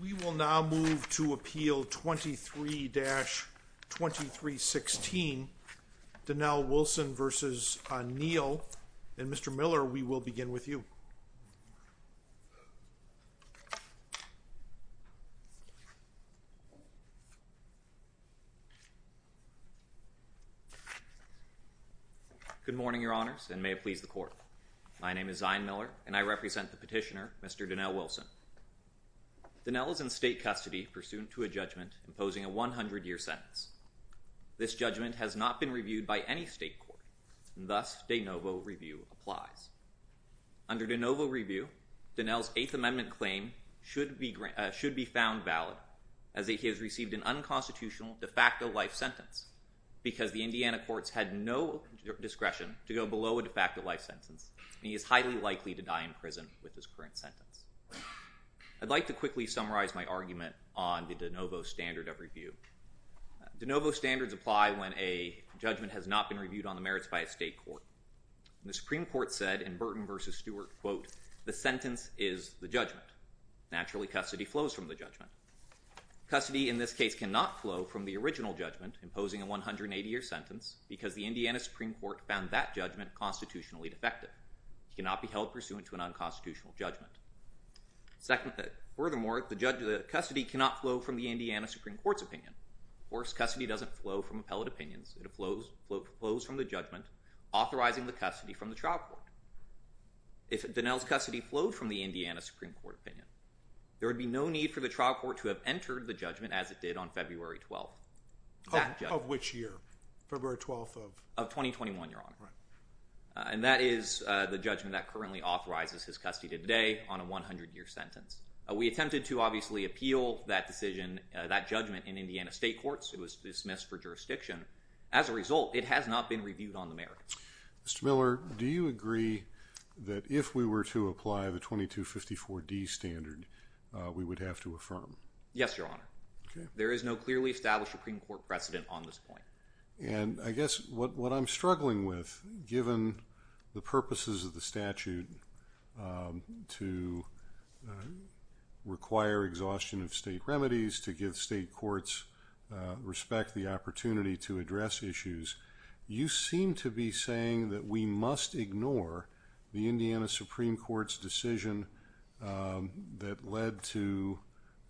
We will now move to appeal 23-2316, Donnell Wilson v. Neal, and Mr. Miller, we will begin with you. Good morning, your honors, and may it please the court. My name is Zion Miller, and I represent the petitioner, Mr. Donnell Wilson. Donnell is in state custody pursuant to a judgment imposing a 100-year sentence. This judgment has not been reviewed by any state court, and thus de novo review applies. Under de novo review, Donnell's Eighth Amendment claim should be found valid, as he has received an unconstitutional de facto life sentence, because the Indiana courts had no discretion to go below a de facto life sentence, and he is highly likely to die in prison with his current sentence. I would like to quickly summarize my argument on the de novo standard of review. De novo standards apply when a judgment has not been reviewed on the merits by a state court. The Supreme Court said in Burton v. Stewart, quote, the sentence is the judgment. Naturally, custody flows from the judgment. Custody in this case cannot flow from the original judgment imposing a 180-year sentence, because the Indiana Supreme Court found that judgment constitutionally defective. It cannot be held pursuant to an unconstitutional judgment. Furthermore, custody cannot flow from the Indiana Supreme Court's opinion. Of course, custody doesn't flow from appellate opinions. It flows from the judgment authorizing the custody from the trial court. If Donnell's custody flowed from the Indiana Supreme Court opinion, there would be no need for the trial court to have entered the judgment as it did on February 12th. Of which year? February 12th of? Of 2021, Your Honor. Right. And that is the judgment that currently authorizes his custody to today on a 100-year sentence. We attempted to obviously appeal that decision, that judgment, in Indiana state courts. It was dismissed for jurisdiction. As a result, it has not been reviewed on the merits. Mr. Miller, do you agree that if we were to apply the 2254D standard, we would have to affirm? Yes, Your Honor. Okay. There is no clearly established Supreme Court precedent on this point. And I guess what I'm struggling with, given the purposes of the statute to require exhaustion of state remedies, to give state courts respect, the opportunity to address issues, you seem to be saying that we must ignore the Indiana Supreme Court's decision that led to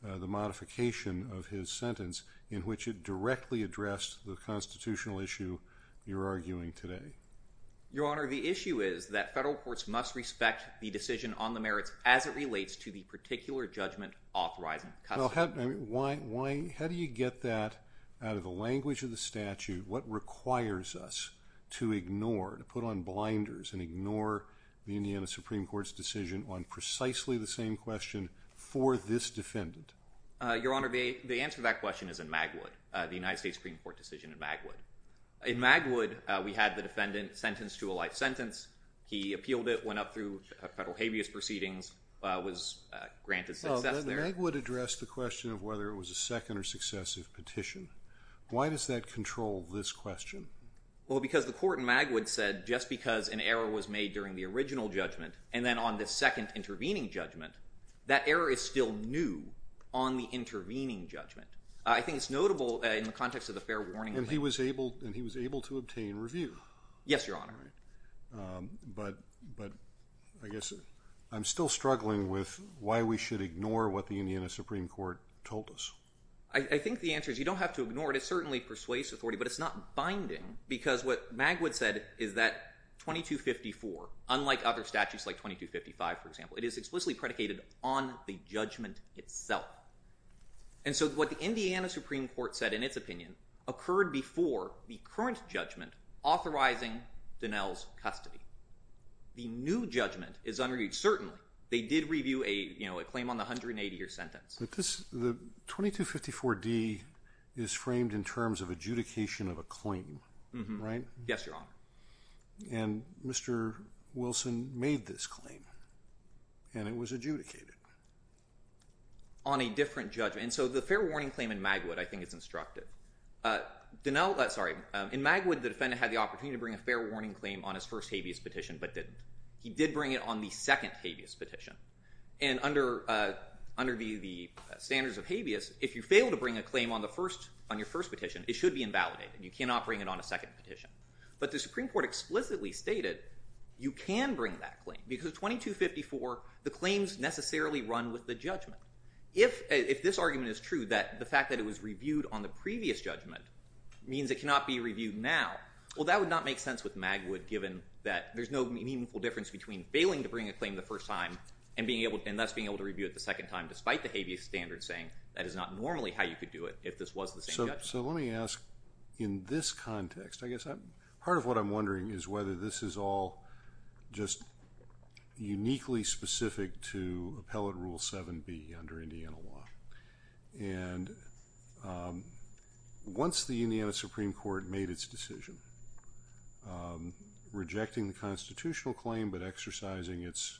the modification of his sentence in which it directly addressed the constitutional issue you're arguing today. Your Honor, the issue is that federal courts must respect the decision on the merits as it relates to the particular judgment authorizing custody. Well, how do you get that out of the language of the statute? What requires us to ignore, to put on blinders and ignore the Indiana Supreme Court's decision on precisely the same question for this defendant? Your Honor, the answer to that question is in Magwood, the United States Supreme Court decision in Magwood. In Magwood, we had the defendant sentenced to a life sentence. He appealed it, went up through federal habeas proceedings, was granted success there. Well, Magwood addressed the question of whether it was a second or successive petition. Why does that control this question? Well, because the court in Magwood said just because an error was made during the original judgment and then on the second intervening judgment, that error is still new on the intervening judgment. I think it's notable in the context of the fair warning. And he was able to obtain review. Yes, Your Honor. But I guess I'm still struggling with why we should ignore what the Indiana Supreme Court told us. I think the answer is you don't have to ignore it. It certainly persuades authority, but it's not binding because what Magwood said is that 2254, unlike other statutes like 2255, for example, it is explicitly predicated on the judgment itself. And so what the Indiana Supreme Court said in its opinion occurred before the current judgment, authorizing Donnell's custody. The new judgment is unreached. Certainly, they did review a claim on the 180-year sentence. The 2254d is framed in terms of adjudication of a claim, right? Yes, Your Honor. And Mr. Wilson made this claim, and it was adjudicated. On a different judgment. And so the fair warning claim in Magwood, I think, is instructive. In Magwood, the defendant had the opportunity to bring a fair warning claim on his first habeas petition, but didn't. He did bring it on the second habeas petition. And under the standards of habeas, if you fail to bring a claim on your first petition, it should be invalidated. You cannot bring it on a second petition. But the Supreme Court explicitly stated you can bring that claim because 2254, the claims necessarily run with the judgment. If this argument is true, that the fact that it was reviewed on the previous judgment means it cannot be reviewed now, well, that would not make sense with Magwood, given that there's no meaningful difference between failing to bring a claim the first time and thus being able to review it the second time despite the habeas standard saying that is not normally how you could do it if this was the same judgment. So let me ask, in this context, I guess part of what I'm wondering is whether this is all just uniquely specific to Appellate Rule 7B under Indiana law. And once the Indiana Supreme Court made its decision, rejecting the constitutional claim but exercising its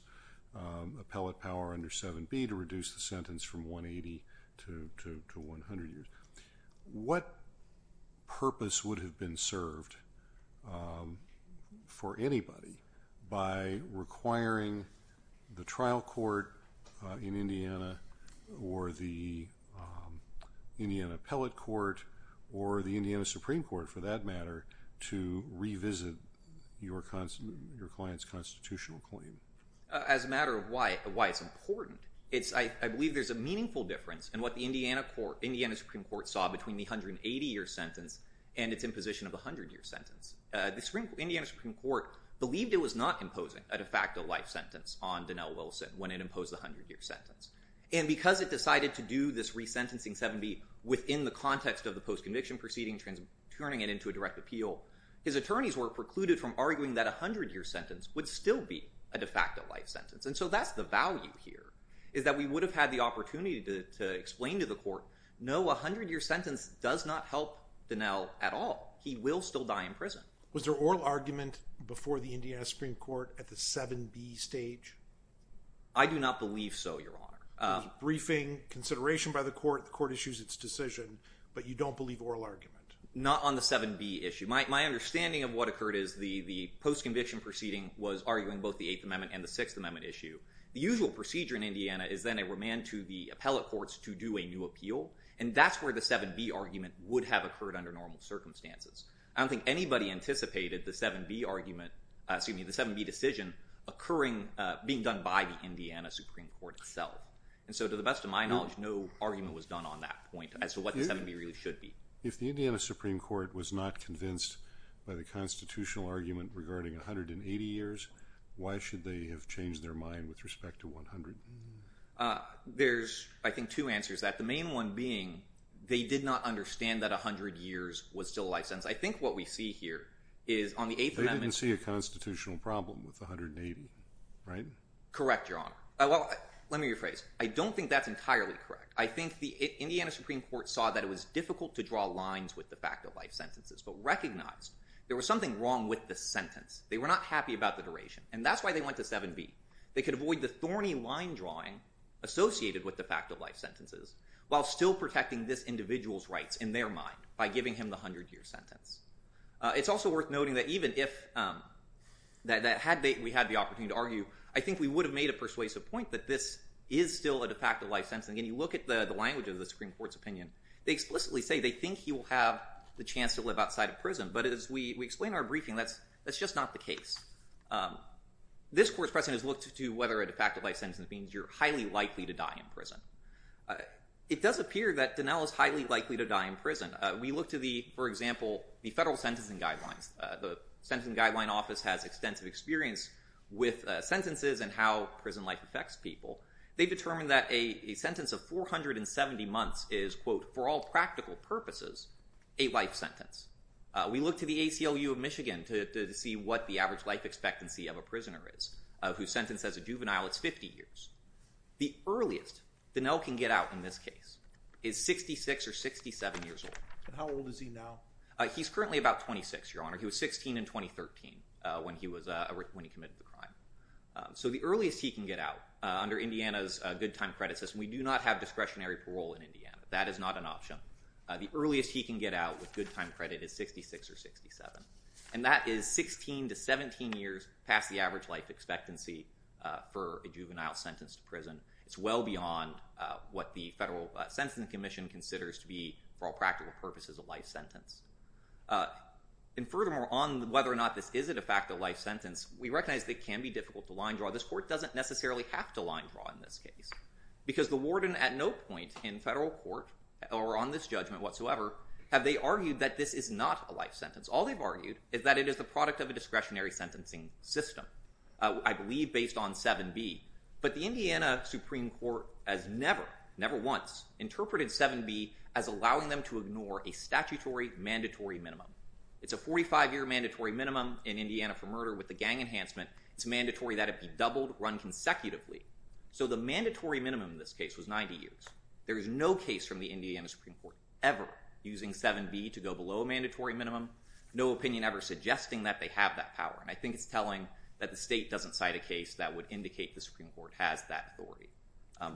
appellate power under 7B to reduce the sentence from 180 to 100 years, what purpose would have been served for anybody by requiring the trial court in Indiana or the Indiana Appellate Court or the Indiana Supreme Court, for that matter, to revisit your client's constitutional claim? As a matter of why it's important, I believe there's a meaningful difference in what the Indiana Supreme Court saw between the 180-year sentence and its imposition of the 100-year sentence. The Indiana Supreme Court believed it was not imposing a de facto life sentence on Donnell Wilson when it imposed the 100-year sentence. And because it decided to do this resentencing 7B within the context of the post-conviction proceeding, turning it into a direct appeal, his attorneys were precluded from arguing that a 100-year sentence would still be a de facto life sentence. And so that's the value here, is that we would have had the opportunity to explain to the court, no, a 100-year sentence does not help Donnell at all. He will still die in prison. Was there oral argument before the Indiana Supreme Court at the 7B stage? I do not believe so, Your Honor. There was briefing, consideration by the court, the court issues its decision, but you don't believe oral argument? Not on the 7B issue. My understanding of what occurred is the post-conviction proceeding was arguing both the Eighth Amendment and the Sixth Amendment issue. The usual procedure in Indiana is then a remand to the appellate courts to do a new appeal, and that's where the 7B argument would have occurred under normal circumstances. I don't think anybody anticipated the 7B argument, excuse me, the 7B decision occurring, being done by the Indiana Supreme Court itself. And so to the best of my knowledge, no argument was done on that point as to what the 7B really should be. If the Indiana Supreme Court was not convinced by the constitutional argument regarding 180 years, why should they have changed their mind with respect to 100? There's I think two answers to that. The main one being they did not understand that 100 years was still a life sentence. I think what we see here is on the Eighth Amendment... They didn't see a constitutional problem with 180, right? Correct, Your Honor. Let me rephrase. I don't think that's entirely correct. I think the Indiana Supreme Court saw that it was difficult to draw lines with the fact of life sentences, but recognized there was something wrong with the sentence. They were not happy about the duration, and that's why they went to 7B. They could avoid the thorny line drawing associated with the fact of life sentences while still protecting this individual's rights in their mind by giving him the 100-year sentence. It's also worth noting that even if... Had we had the opportunity to argue, I think we would have made a persuasive point that this is still a de facto life sentence. And again, you look at the language of the Supreme Court's opinion, they explicitly say they think he will have the chance to live outside of prison. But as we explain in our briefing, that's just not the case. This Court's precedent has looked to whether a de facto life sentence means you're highly likely to die in prison. It does appear that Donnell is highly likely to die in prison. We look to the, for example, the Federal Sentencing Guidelines. The Sentencing Guidelines Office has extensive experience with sentences and how prison life affects people. They've determined that a sentence of 470 months is, quote, for all practical purposes, a life sentence. We look to the ACLU of Michigan to see what the average life expectancy of a prisoner is. Who's sentenced as a juvenile, it's 50 years. The earliest Donnell can get out in this case is 66 or 67 years old. And how old is he now? He's currently about 26, Your Honor. He was 16 in 2013 when he committed the crime. So the earliest he can get out, under Indiana's good time credit system, we do not have discretionary parole in Indiana. That is not an option. The earliest he can get out, with good time credit, is 66 or 67. And that is 16 to 17 years past the average life expectancy for a juvenile sentenced to prison. It's well beyond what the Federal Sentencing Commission considers to be, for all practical purposes, a life sentence. And furthermore, on whether or not this is, in effect, a life sentence, we recognize that it can be difficult to line draw. This court doesn't necessarily have to line draw in this case. Because the warden at no point in federal court, or on this judgment whatsoever, have they argued that this is not a life sentence. All they've argued is that it is the product of a discretionary sentencing system, I believe based on 7b. But the Indiana Supreme Court has never, never once, interpreted 7b as allowing them to ignore a statutory mandatory minimum. It's a 45-year mandatory minimum in Indiana for murder with the gang enhancement. It's mandatory that it be doubled, run consecutively. So the mandatory minimum in this case was 90 years. There is no case from the Indiana Supreme Court ever using 7b to go below a mandatory minimum. No opinion ever suggesting that they have that power. And I think it's telling that the state doesn't cite a case that would indicate the Supreme Court has that authority.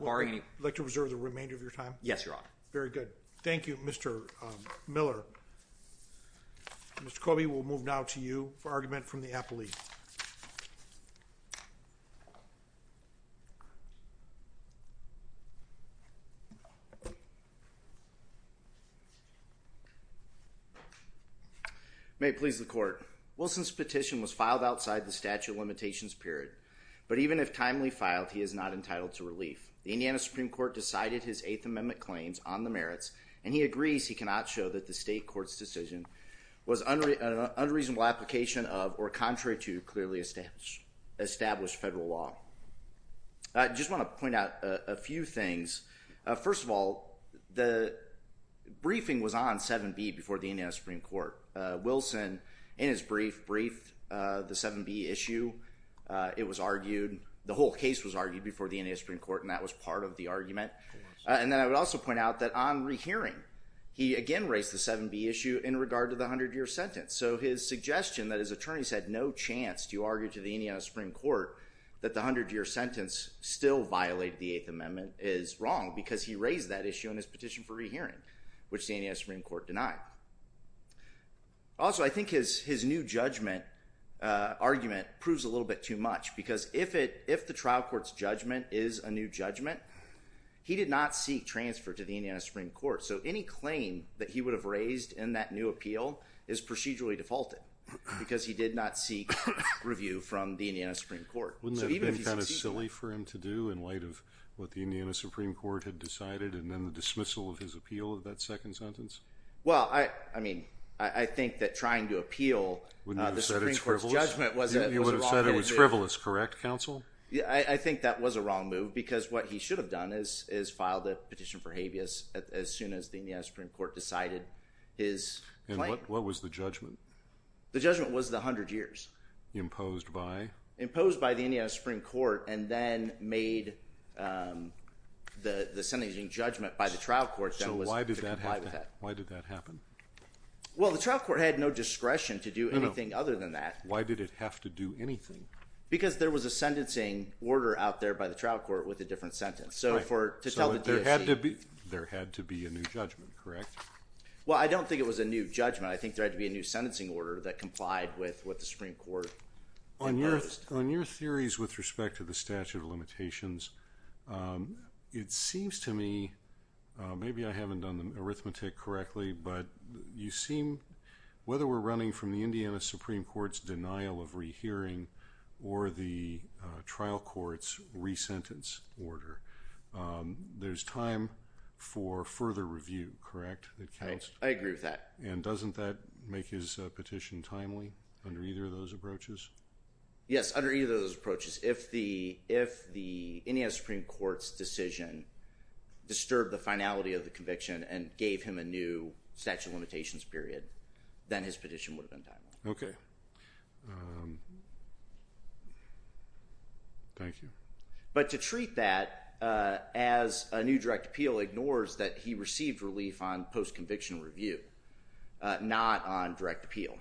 Barring any- Would you like to reserve the remainder of your time? Yes, Your Honor. Very good. Thank you, Mr. Miller. Mr. Coby, we'll move now to you for argument from the apple leaf. Thank you, Your Honor. May it please the Court. Wilson's petition was filed outside the statute of limitations period. But even if timely filed, he is not entitled to relief. The Indiana Supreme Court decided his Eighth Amendment claims on the merits, and he agrees he cannot show that the state court's decision was an unreasonable application of or contrary to clearly established federal law. I just want to point out a few things. First of all, the briefing was on 7b before the Indiana Supreme Court. Wilson, in his brief, briefed the 7b issue. It was argued, the whole case was argued before the Indiana Supreme Court, and that was part of the argument. And then I would also point out that on rehearing, he again raised the 7b issue in regard to the 100-year sentence. So his suggestion that his attorneys had no chance to argue to the Indiana Supreme Court that the 100-year sentence still violated the Eighth Amendment is wrong, because he raised that issue in his petition for rehearing, which the Indiana Supreme Court denied. Also, I think his new judgment argument proves a little bit too much, because if the trial court's judgment is a new judgment, he did not seek transfer to the Indiana Supreme Court. So any claim that he would have raised in that new appeal is procedurally defaulted, because he did not seek review from the Indiana Supreme Court. So even if he succeeded... Wouldn't that have been kind of silly for him to do, in light of what the Indiana Supreme Court had decided, and then the dismissal of his appeal of that second sentence? Well, I mean, I think that trying to appeal the Supreme Court's judgment was a wrong move. You wouldn't have said it was frivolous, correct, counsel? I think that was a wrong move, because what he should have done is filed a petition for review, as soon as the Indiana Supreme Court decided his claim. And what was the judgment? The judgment was the 100 years. Imposed by? Imposed by the Indiana Supreme Court, and then made the sentencing judgment by the trial court that was to comply with that. So why did that happen? Why did that happen? Well, the trial court had no discretion to do anything other than that. Why did it have to do anything? Because there was a sentencing order out there by the trial court with a different sentence. So for... So there had to be... There had to be a new judgment, correct? Well, I don't think it was a new judgment. I think there had to be a new sentencing order that complied with what the Supreme Court imposed. On your theories with respect to the statute of limitations, it seems to me, maybe I haven't done the arithmetic correctly, but you seem, whether we're running from the Indiana Supreme Court's denial of rehearing or the trial court's re-sentence order, there's time for further review, correct? That counts? I agree with that. And doesn't that make his petition timely under either of those approaches? Yes, under either of those approaches. If the Indiana Supreme Court's decision disturbed the finality of the conviction and gave him a new statute of limitations period, then his petition would have been timely. Okay. Thank you. But to treat that as a new direct appeal ignores that he received relief on post-conviction review, not on direct appeal.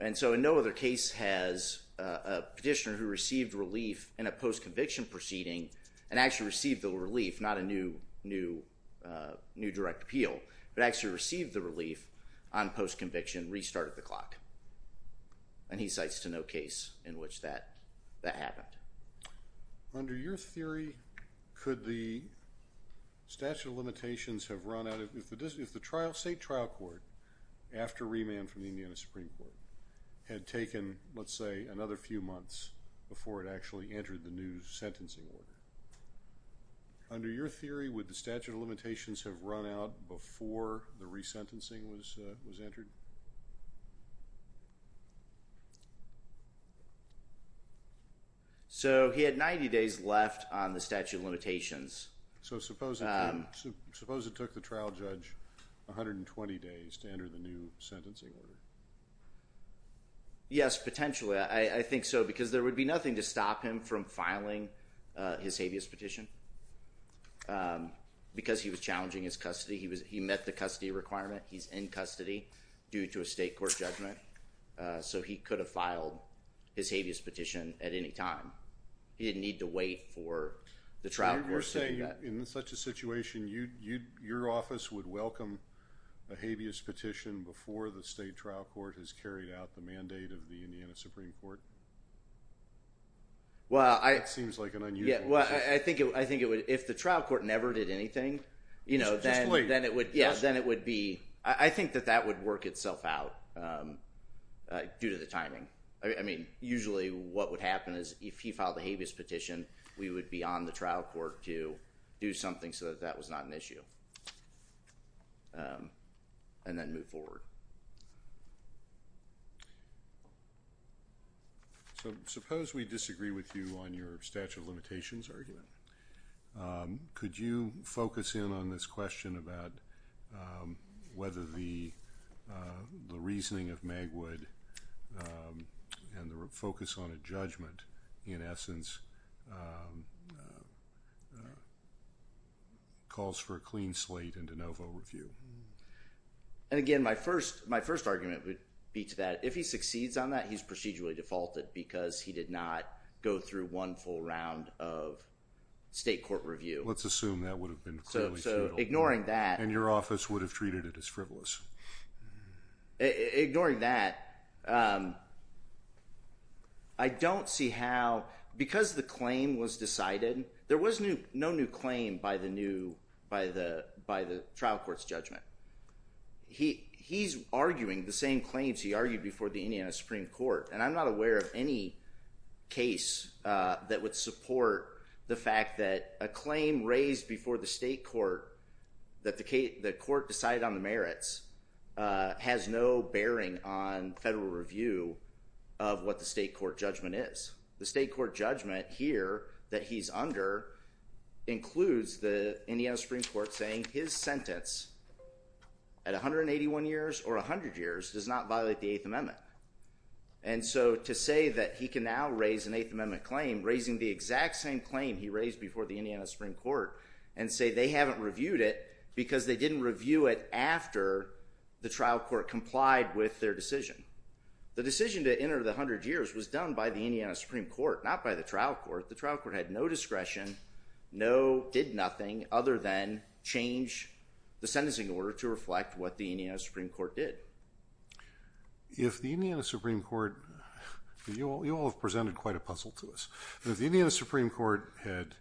And so in no other case has a petitioner who received relief in a post-conviction proceeding and actually received the relief, not a new direct appeal, but actually received the relief on post-conviction restart at the clock. And he cites to no case in which that happened. Under your theory, could the statute of limitations have run out if the state trial court, after remand from the Indiana Supreme Court, had taken, let's say, another few months before it actually entered the new sentencing order? Under your theory, would the statute of limitations have run out before the re-sentencing was entered? So he had 90 days left on the statute of limitations. So suppose it took the trial judge 120 days to enter the new sentencing order? Yes, potentially. I think so because there would be nothing to stop him from filing his habeas petition because he was challenging his custody. He met the custody requirement. He's in custody due to a state court judgment. So he could have filed his habeas petition at any time. He didn't need to wait for the trial court to do that. In such a situation, your office would welcome a habeas petition before the state trial court has carried out the mandate of the Indiana Supreme Court? Well I think if the trial court never did anything, then it would be I think that that would work itself out due to the timing. I mean, usually what would happen is if he filed a habeas petition, we would be on the trial court to do something so that that was not an issue and then move forward. So suppose we disagree with you on your statute of limitations argument. Could you focus in on this question about whether the reasoning of Magwood and the focus on a judgment in essence calls for a clean slate in de novo review? And again, my first argument would be that if he succeeds on that, he's procedurally defaulted because he did not go through one full round of state court review. Let's assume that would have been clearly futile. And your office would have treated it as frivolous. Ignoring that, I don't see how, because the claim was decided, there was no new claim by the trial court's judgment. He's arguing the same claims he argued before the Indiana Supreme Court. And I'm not aware of any case that would support the fact that a claim raised before the state court that the court decided on the merits has no bearing on federal review of what the state court judgment is. The state court judgment here that he's under includes the Indiana Supreme Court saying his sentence at 181 years or 100 years does not violate the Eighth Amendment. And so to say that he can now raise an Eighth Amendment claim, raising the exact same claim he raised before the Indiana Supreme Court, and say they haven't reviewed it because they didn't review it after the trial court complied with their decision. The decision to enter the 100 years was done by the Indiana Supreme Court, not by the trial court. The trial court had no discretion, did nothing other than change the sentencing order to reflect what the Indiana Supreme Court did. If the Indiana Supreme Court, you all have presented quite a puzzle to us, if the Indiana Supreme Court had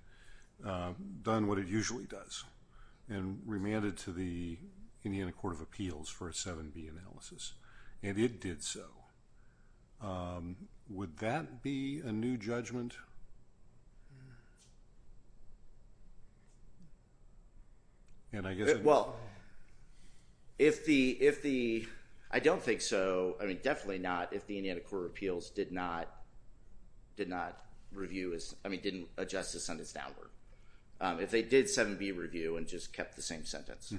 done what it usually does and remanded to the Indiana Court of Appeals for a 7B analysis, and it did so, would that be a new judgment? And I guess it would be. Well, if the, I don't think so, I mean definitely not, if the Indiana Court of Appeals did not review as, I mean didn't adjust the sentence downward. If they did 7B review and just kept the same sentence.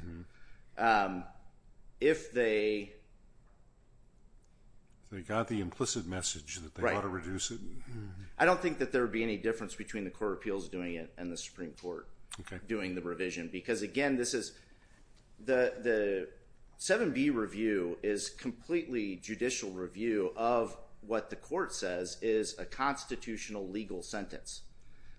If they... If they got the implicit message that they ought to reduce it? I don't think that there would be any difference between the Court of Appeals doing it and the Supreme Court doing the revision. Because again, this is, the 7B review is completely judicial review of what the court says is a constitutional legal sentence.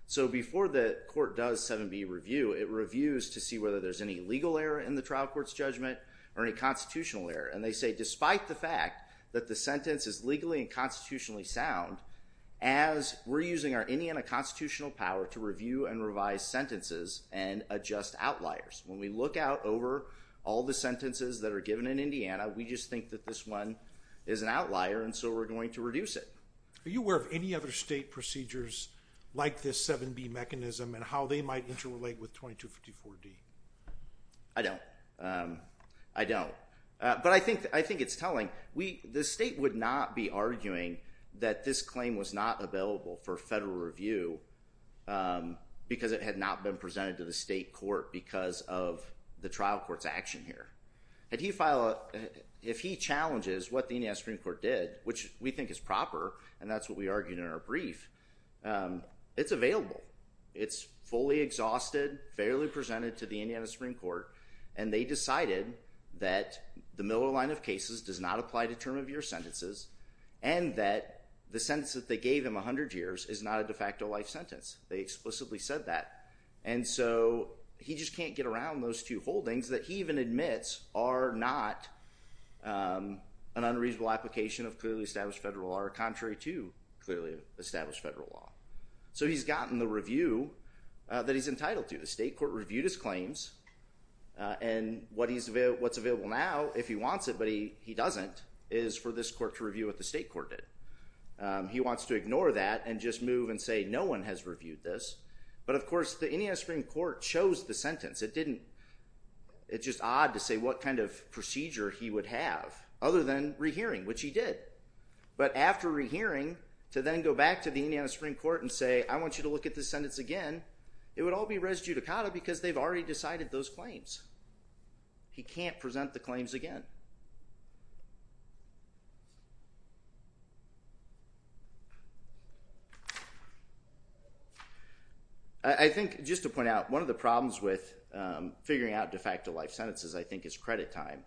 So before the court does 7B review, it reviews to see whether there's any legal error in the trial court's judgment or any constitutional error. And they say despite the fact that the sentence is legally and constitutionally sound, as we're using our Indiana constitutional power to review and revise sentences and adjust outliers. When we look out over all the sentences that are given in Indiana, we just think that this one is an outlier and so we're going to reduce it. Are you aware of any other state procedures like this 7B mechanism and how they might interrelate with 2254D? I don't. I don't. But I think it's telling. The state would not be arguing that this claim was not available for federal review because it had not been presented to the state court because of the trial court's action here. If he challenges what the Indiana Supreme Court did, which we think is proper, and that's what we argued in our brief, it's available. It's fully exhausted, fairly presented to the Indiana Supreme Court, and they decided that the Miller line of cases does not apply to term of year sentences and that the sentence that they gave him, 100 years, is not a de facto life sentence. They explicitly said that. And so he just can't get around those two holdings that he even admits are not an unreasonable application of clearly established federal law or contrary to clearly established federal law. So he's gotten the review that he's entitled to. The state court reviewed his claims and what's available now, if he wants it but he doesn't, is for this court to review what the state court did. He wants to ignore that and just move and say no one has reviewed this. But of course, the Indiana Supreme Court chose the sentence. It didn't, it's just odd to say what kind of procedure he would have other than rehearing, which he did. But after rehearing, to then go back to the Indiana Supreme Court and say, I want you to look at this sentence again, it would all be res judicata because they've already decided those claims. He can't present the claims again. I think, just to point out, one of the problems with figuring out de facto life sentences, I think, is credit time.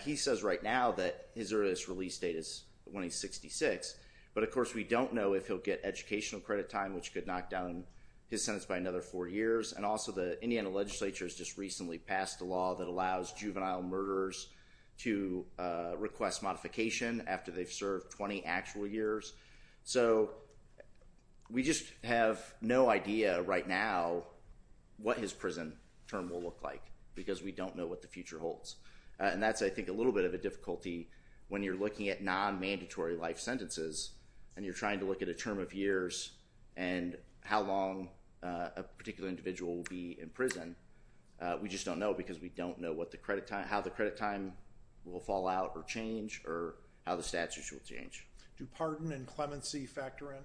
He says right now that his earliest release date is when he's 66. But of course, we don't know if he'll get educational credit time, which could knock down his sentence by another four years. And also the Indiana legislature has just recently passed a law that allows juvenile murderers to request modification after they've served 20 actual years. So we just have no idea right now what his prison term will look like because we don't know what the future holds. And that's, I think, a little bit of a difficulty when you're looking at non-mandatory life sentences and you're trying to look at a term of years and how long a particular individual will be in prison. We just don't know because we don't know how the credit time will fall out or change or how the statutes will change. Do pardon and clemency factor in?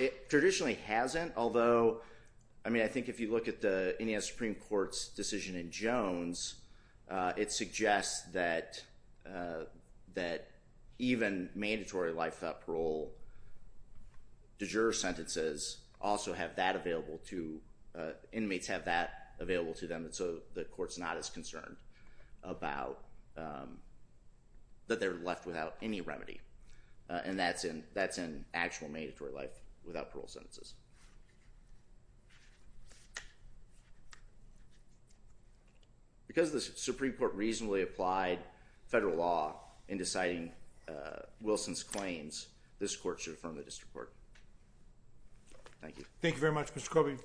It traditionally hasn't, although, I mean, I think if you look at the Indiana Supreme Court's decision in Jones, it suggests that even mandatory life thought parole de jure sentences also have that available to, inmates have that available to them, and so the court's not as concerned about that they're left without any remedy. And that's in actual mandatory life without parole sentences. Because the Supreme Court reasonably applied federal law in deciding Wilson's claims, this court should affirm the district court. Thank you. Thank you very much, Mr. Cobey.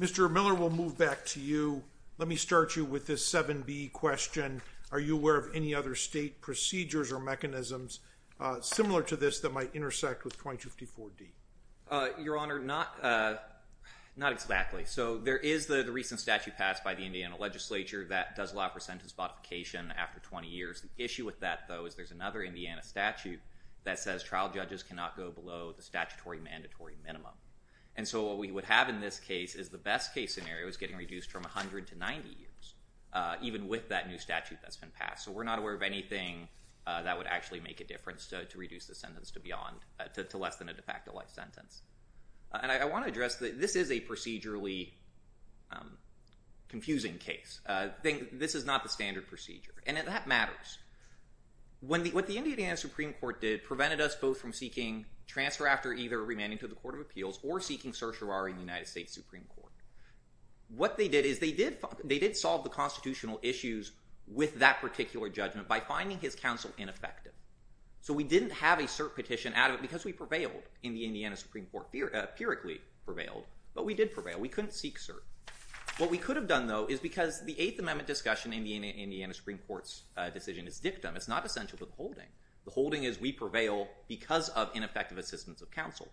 Mr. Miller, we'll move back to you. Let me start you with this 7B question. Are you aware of any other state procedures or mechanisms similar to this that might intersect with 2054D? Your Honor, not exactly. So there is the recent statute passed by the Indiana legislature that does allow for sentence modification after 20 years. The issue with that, though, is there's another Indiana statute that says trial judges cannot go below the statutory mandatory minimum. And so what we would have in this case is the best case scenario is getting reduced from 100 to 90 years, even with that new statute that's been passed, so we're not aware of anything that would actually make a difference to reduce the sentence to less than a de facto life sentence. And I want to address that this is a procedurally confusing case. This is not the standard procedure, and that matters. What the Indiana Supreme Court did prevented us both from seeking transfer after either demanding to the Court of Appeals or seeking certiorari in the United States Supreme Court. What they did is they did solve the constitutional issues with that particular judgment by finding his counsel ineffective. So we didn't have a cert petition out of it because we prevailed in the Indiana Supreme Court, empirically prevailed, but we did prevail. We couldn't seek cert. What we could have done, though, is because the Eighth Amendment discussion in the Indiana we prevail because of ineffective assistance of counsel.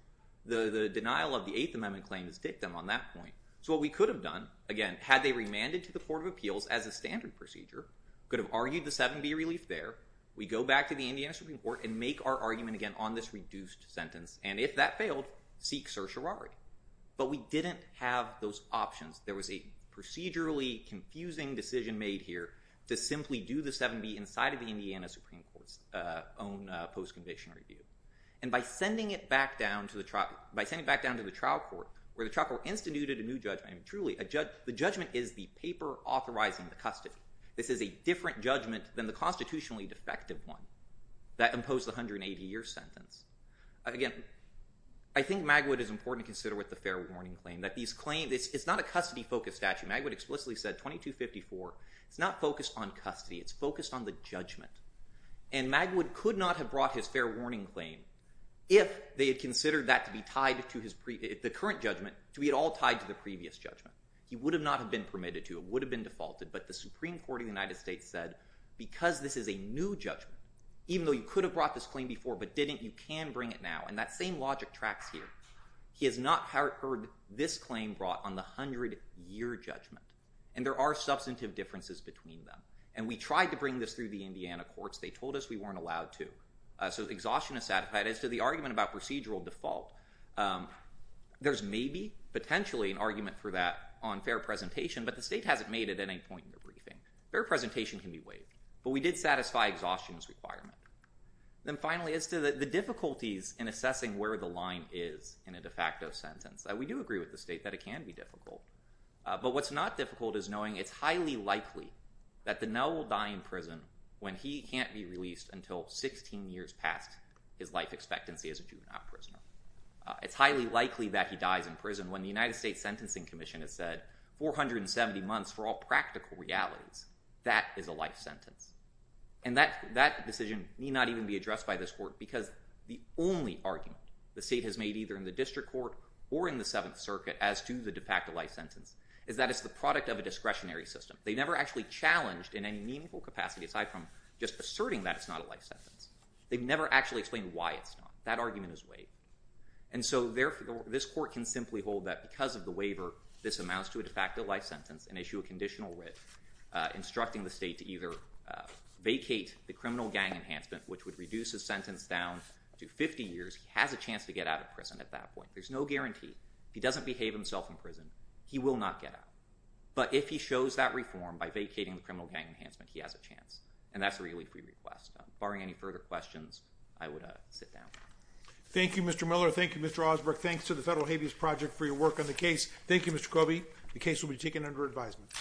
The denial of the Eighth Amendment claim is dictum on that point. So what we could have done, again, had they remanded to the Court of Appeals as a standard procedure, could have argued the 7B relief there. We go back to the Indiana Supreme Court and make our argument again on this reduced sentence, and if that failed, seek certiorari. But we didn't have those options. There was a procedurally confusing decision made here to simply do the 7B inside of the own post-conviction review. And by sending it back down to the trial court, where the trial court instituted a new judgment, the judgment is the paper authorizing the custody. This is a different judgment than the constitutionally defective one that imposed the 180-year sentence. Again, I think Magwood is important to consider with the fair warning claim. It's not a custody-focused statute. Magwood explicitly said 2254, it's not focused on custody. It's focused on the judgment. And Magwood could not have brought his fair warning claim, if they had considered that to be tied to the current judgment, to be at all tied to the previous judgment. He would have not have been permitted to, it would have been defaulted, but the Supreme Court of the United States said, because this is a new judgment, even though you could have brought this claim before, but didn't, you can bring it now, and that same logic tracks here. He has not heard this claim brought on the 100-year judgment, and there are substantive differences between them. And we tried to bring this through the Indiana courts, they told us we weren't allowed to. So exhaustion is satisfied. As to the argument about procedural default, there's maybe, potentially, an argument for that on fair presentation, but the state hasn't made it at any point in the briefing. Fair presentation can be waived, but we did satisfy exhaustion's requirement. Then finally, as to the difficulties in assessing where the line is in a de facto sentence, we do agree with the state that it can be difficult, but what's not difficult is knowing it's highly likely that Donnell will die in prison when he can't be released until 16 years past his life expectancy as a juvenile prisoner. It's highly likely that he dies in prison when the United States Sentencing Commission has said, 470 months for all practical realities, that is a life sentence. And that decision need not even be addressed by this court, because the only argument the state has made, either in the district court or in the Seventh Circuit, as to the de facto life sentence, is that it's the product of a discretionary system. They never actually challenged in any meaningful capacity, aside from just asserting that it's not a life sentence, they've never actually explained why it's not. That argument is waived. And so this court can simply hold that because of the waiver, this amounts to a de facto life sentence and issue a conditional writ instructing the state to either vacate the criminal gang enhancement, which would reduce his sentence down to 50 years, he has a chance to get out of prison at that point. There's no guarantee. If he doesn't behave himself in prison, he will not get out. But if he shows that reform by vacating the criminal gang enhancement, he has a chance. And that's a really free request. Barring any further questions, I would sit down. Thank you, Mr. Miller. Thank you, Mr. Osberg. Thanks to the Federal Habeas Project for your work on the case. Thank you, Mr. Kobe. The case will be taken under advisement.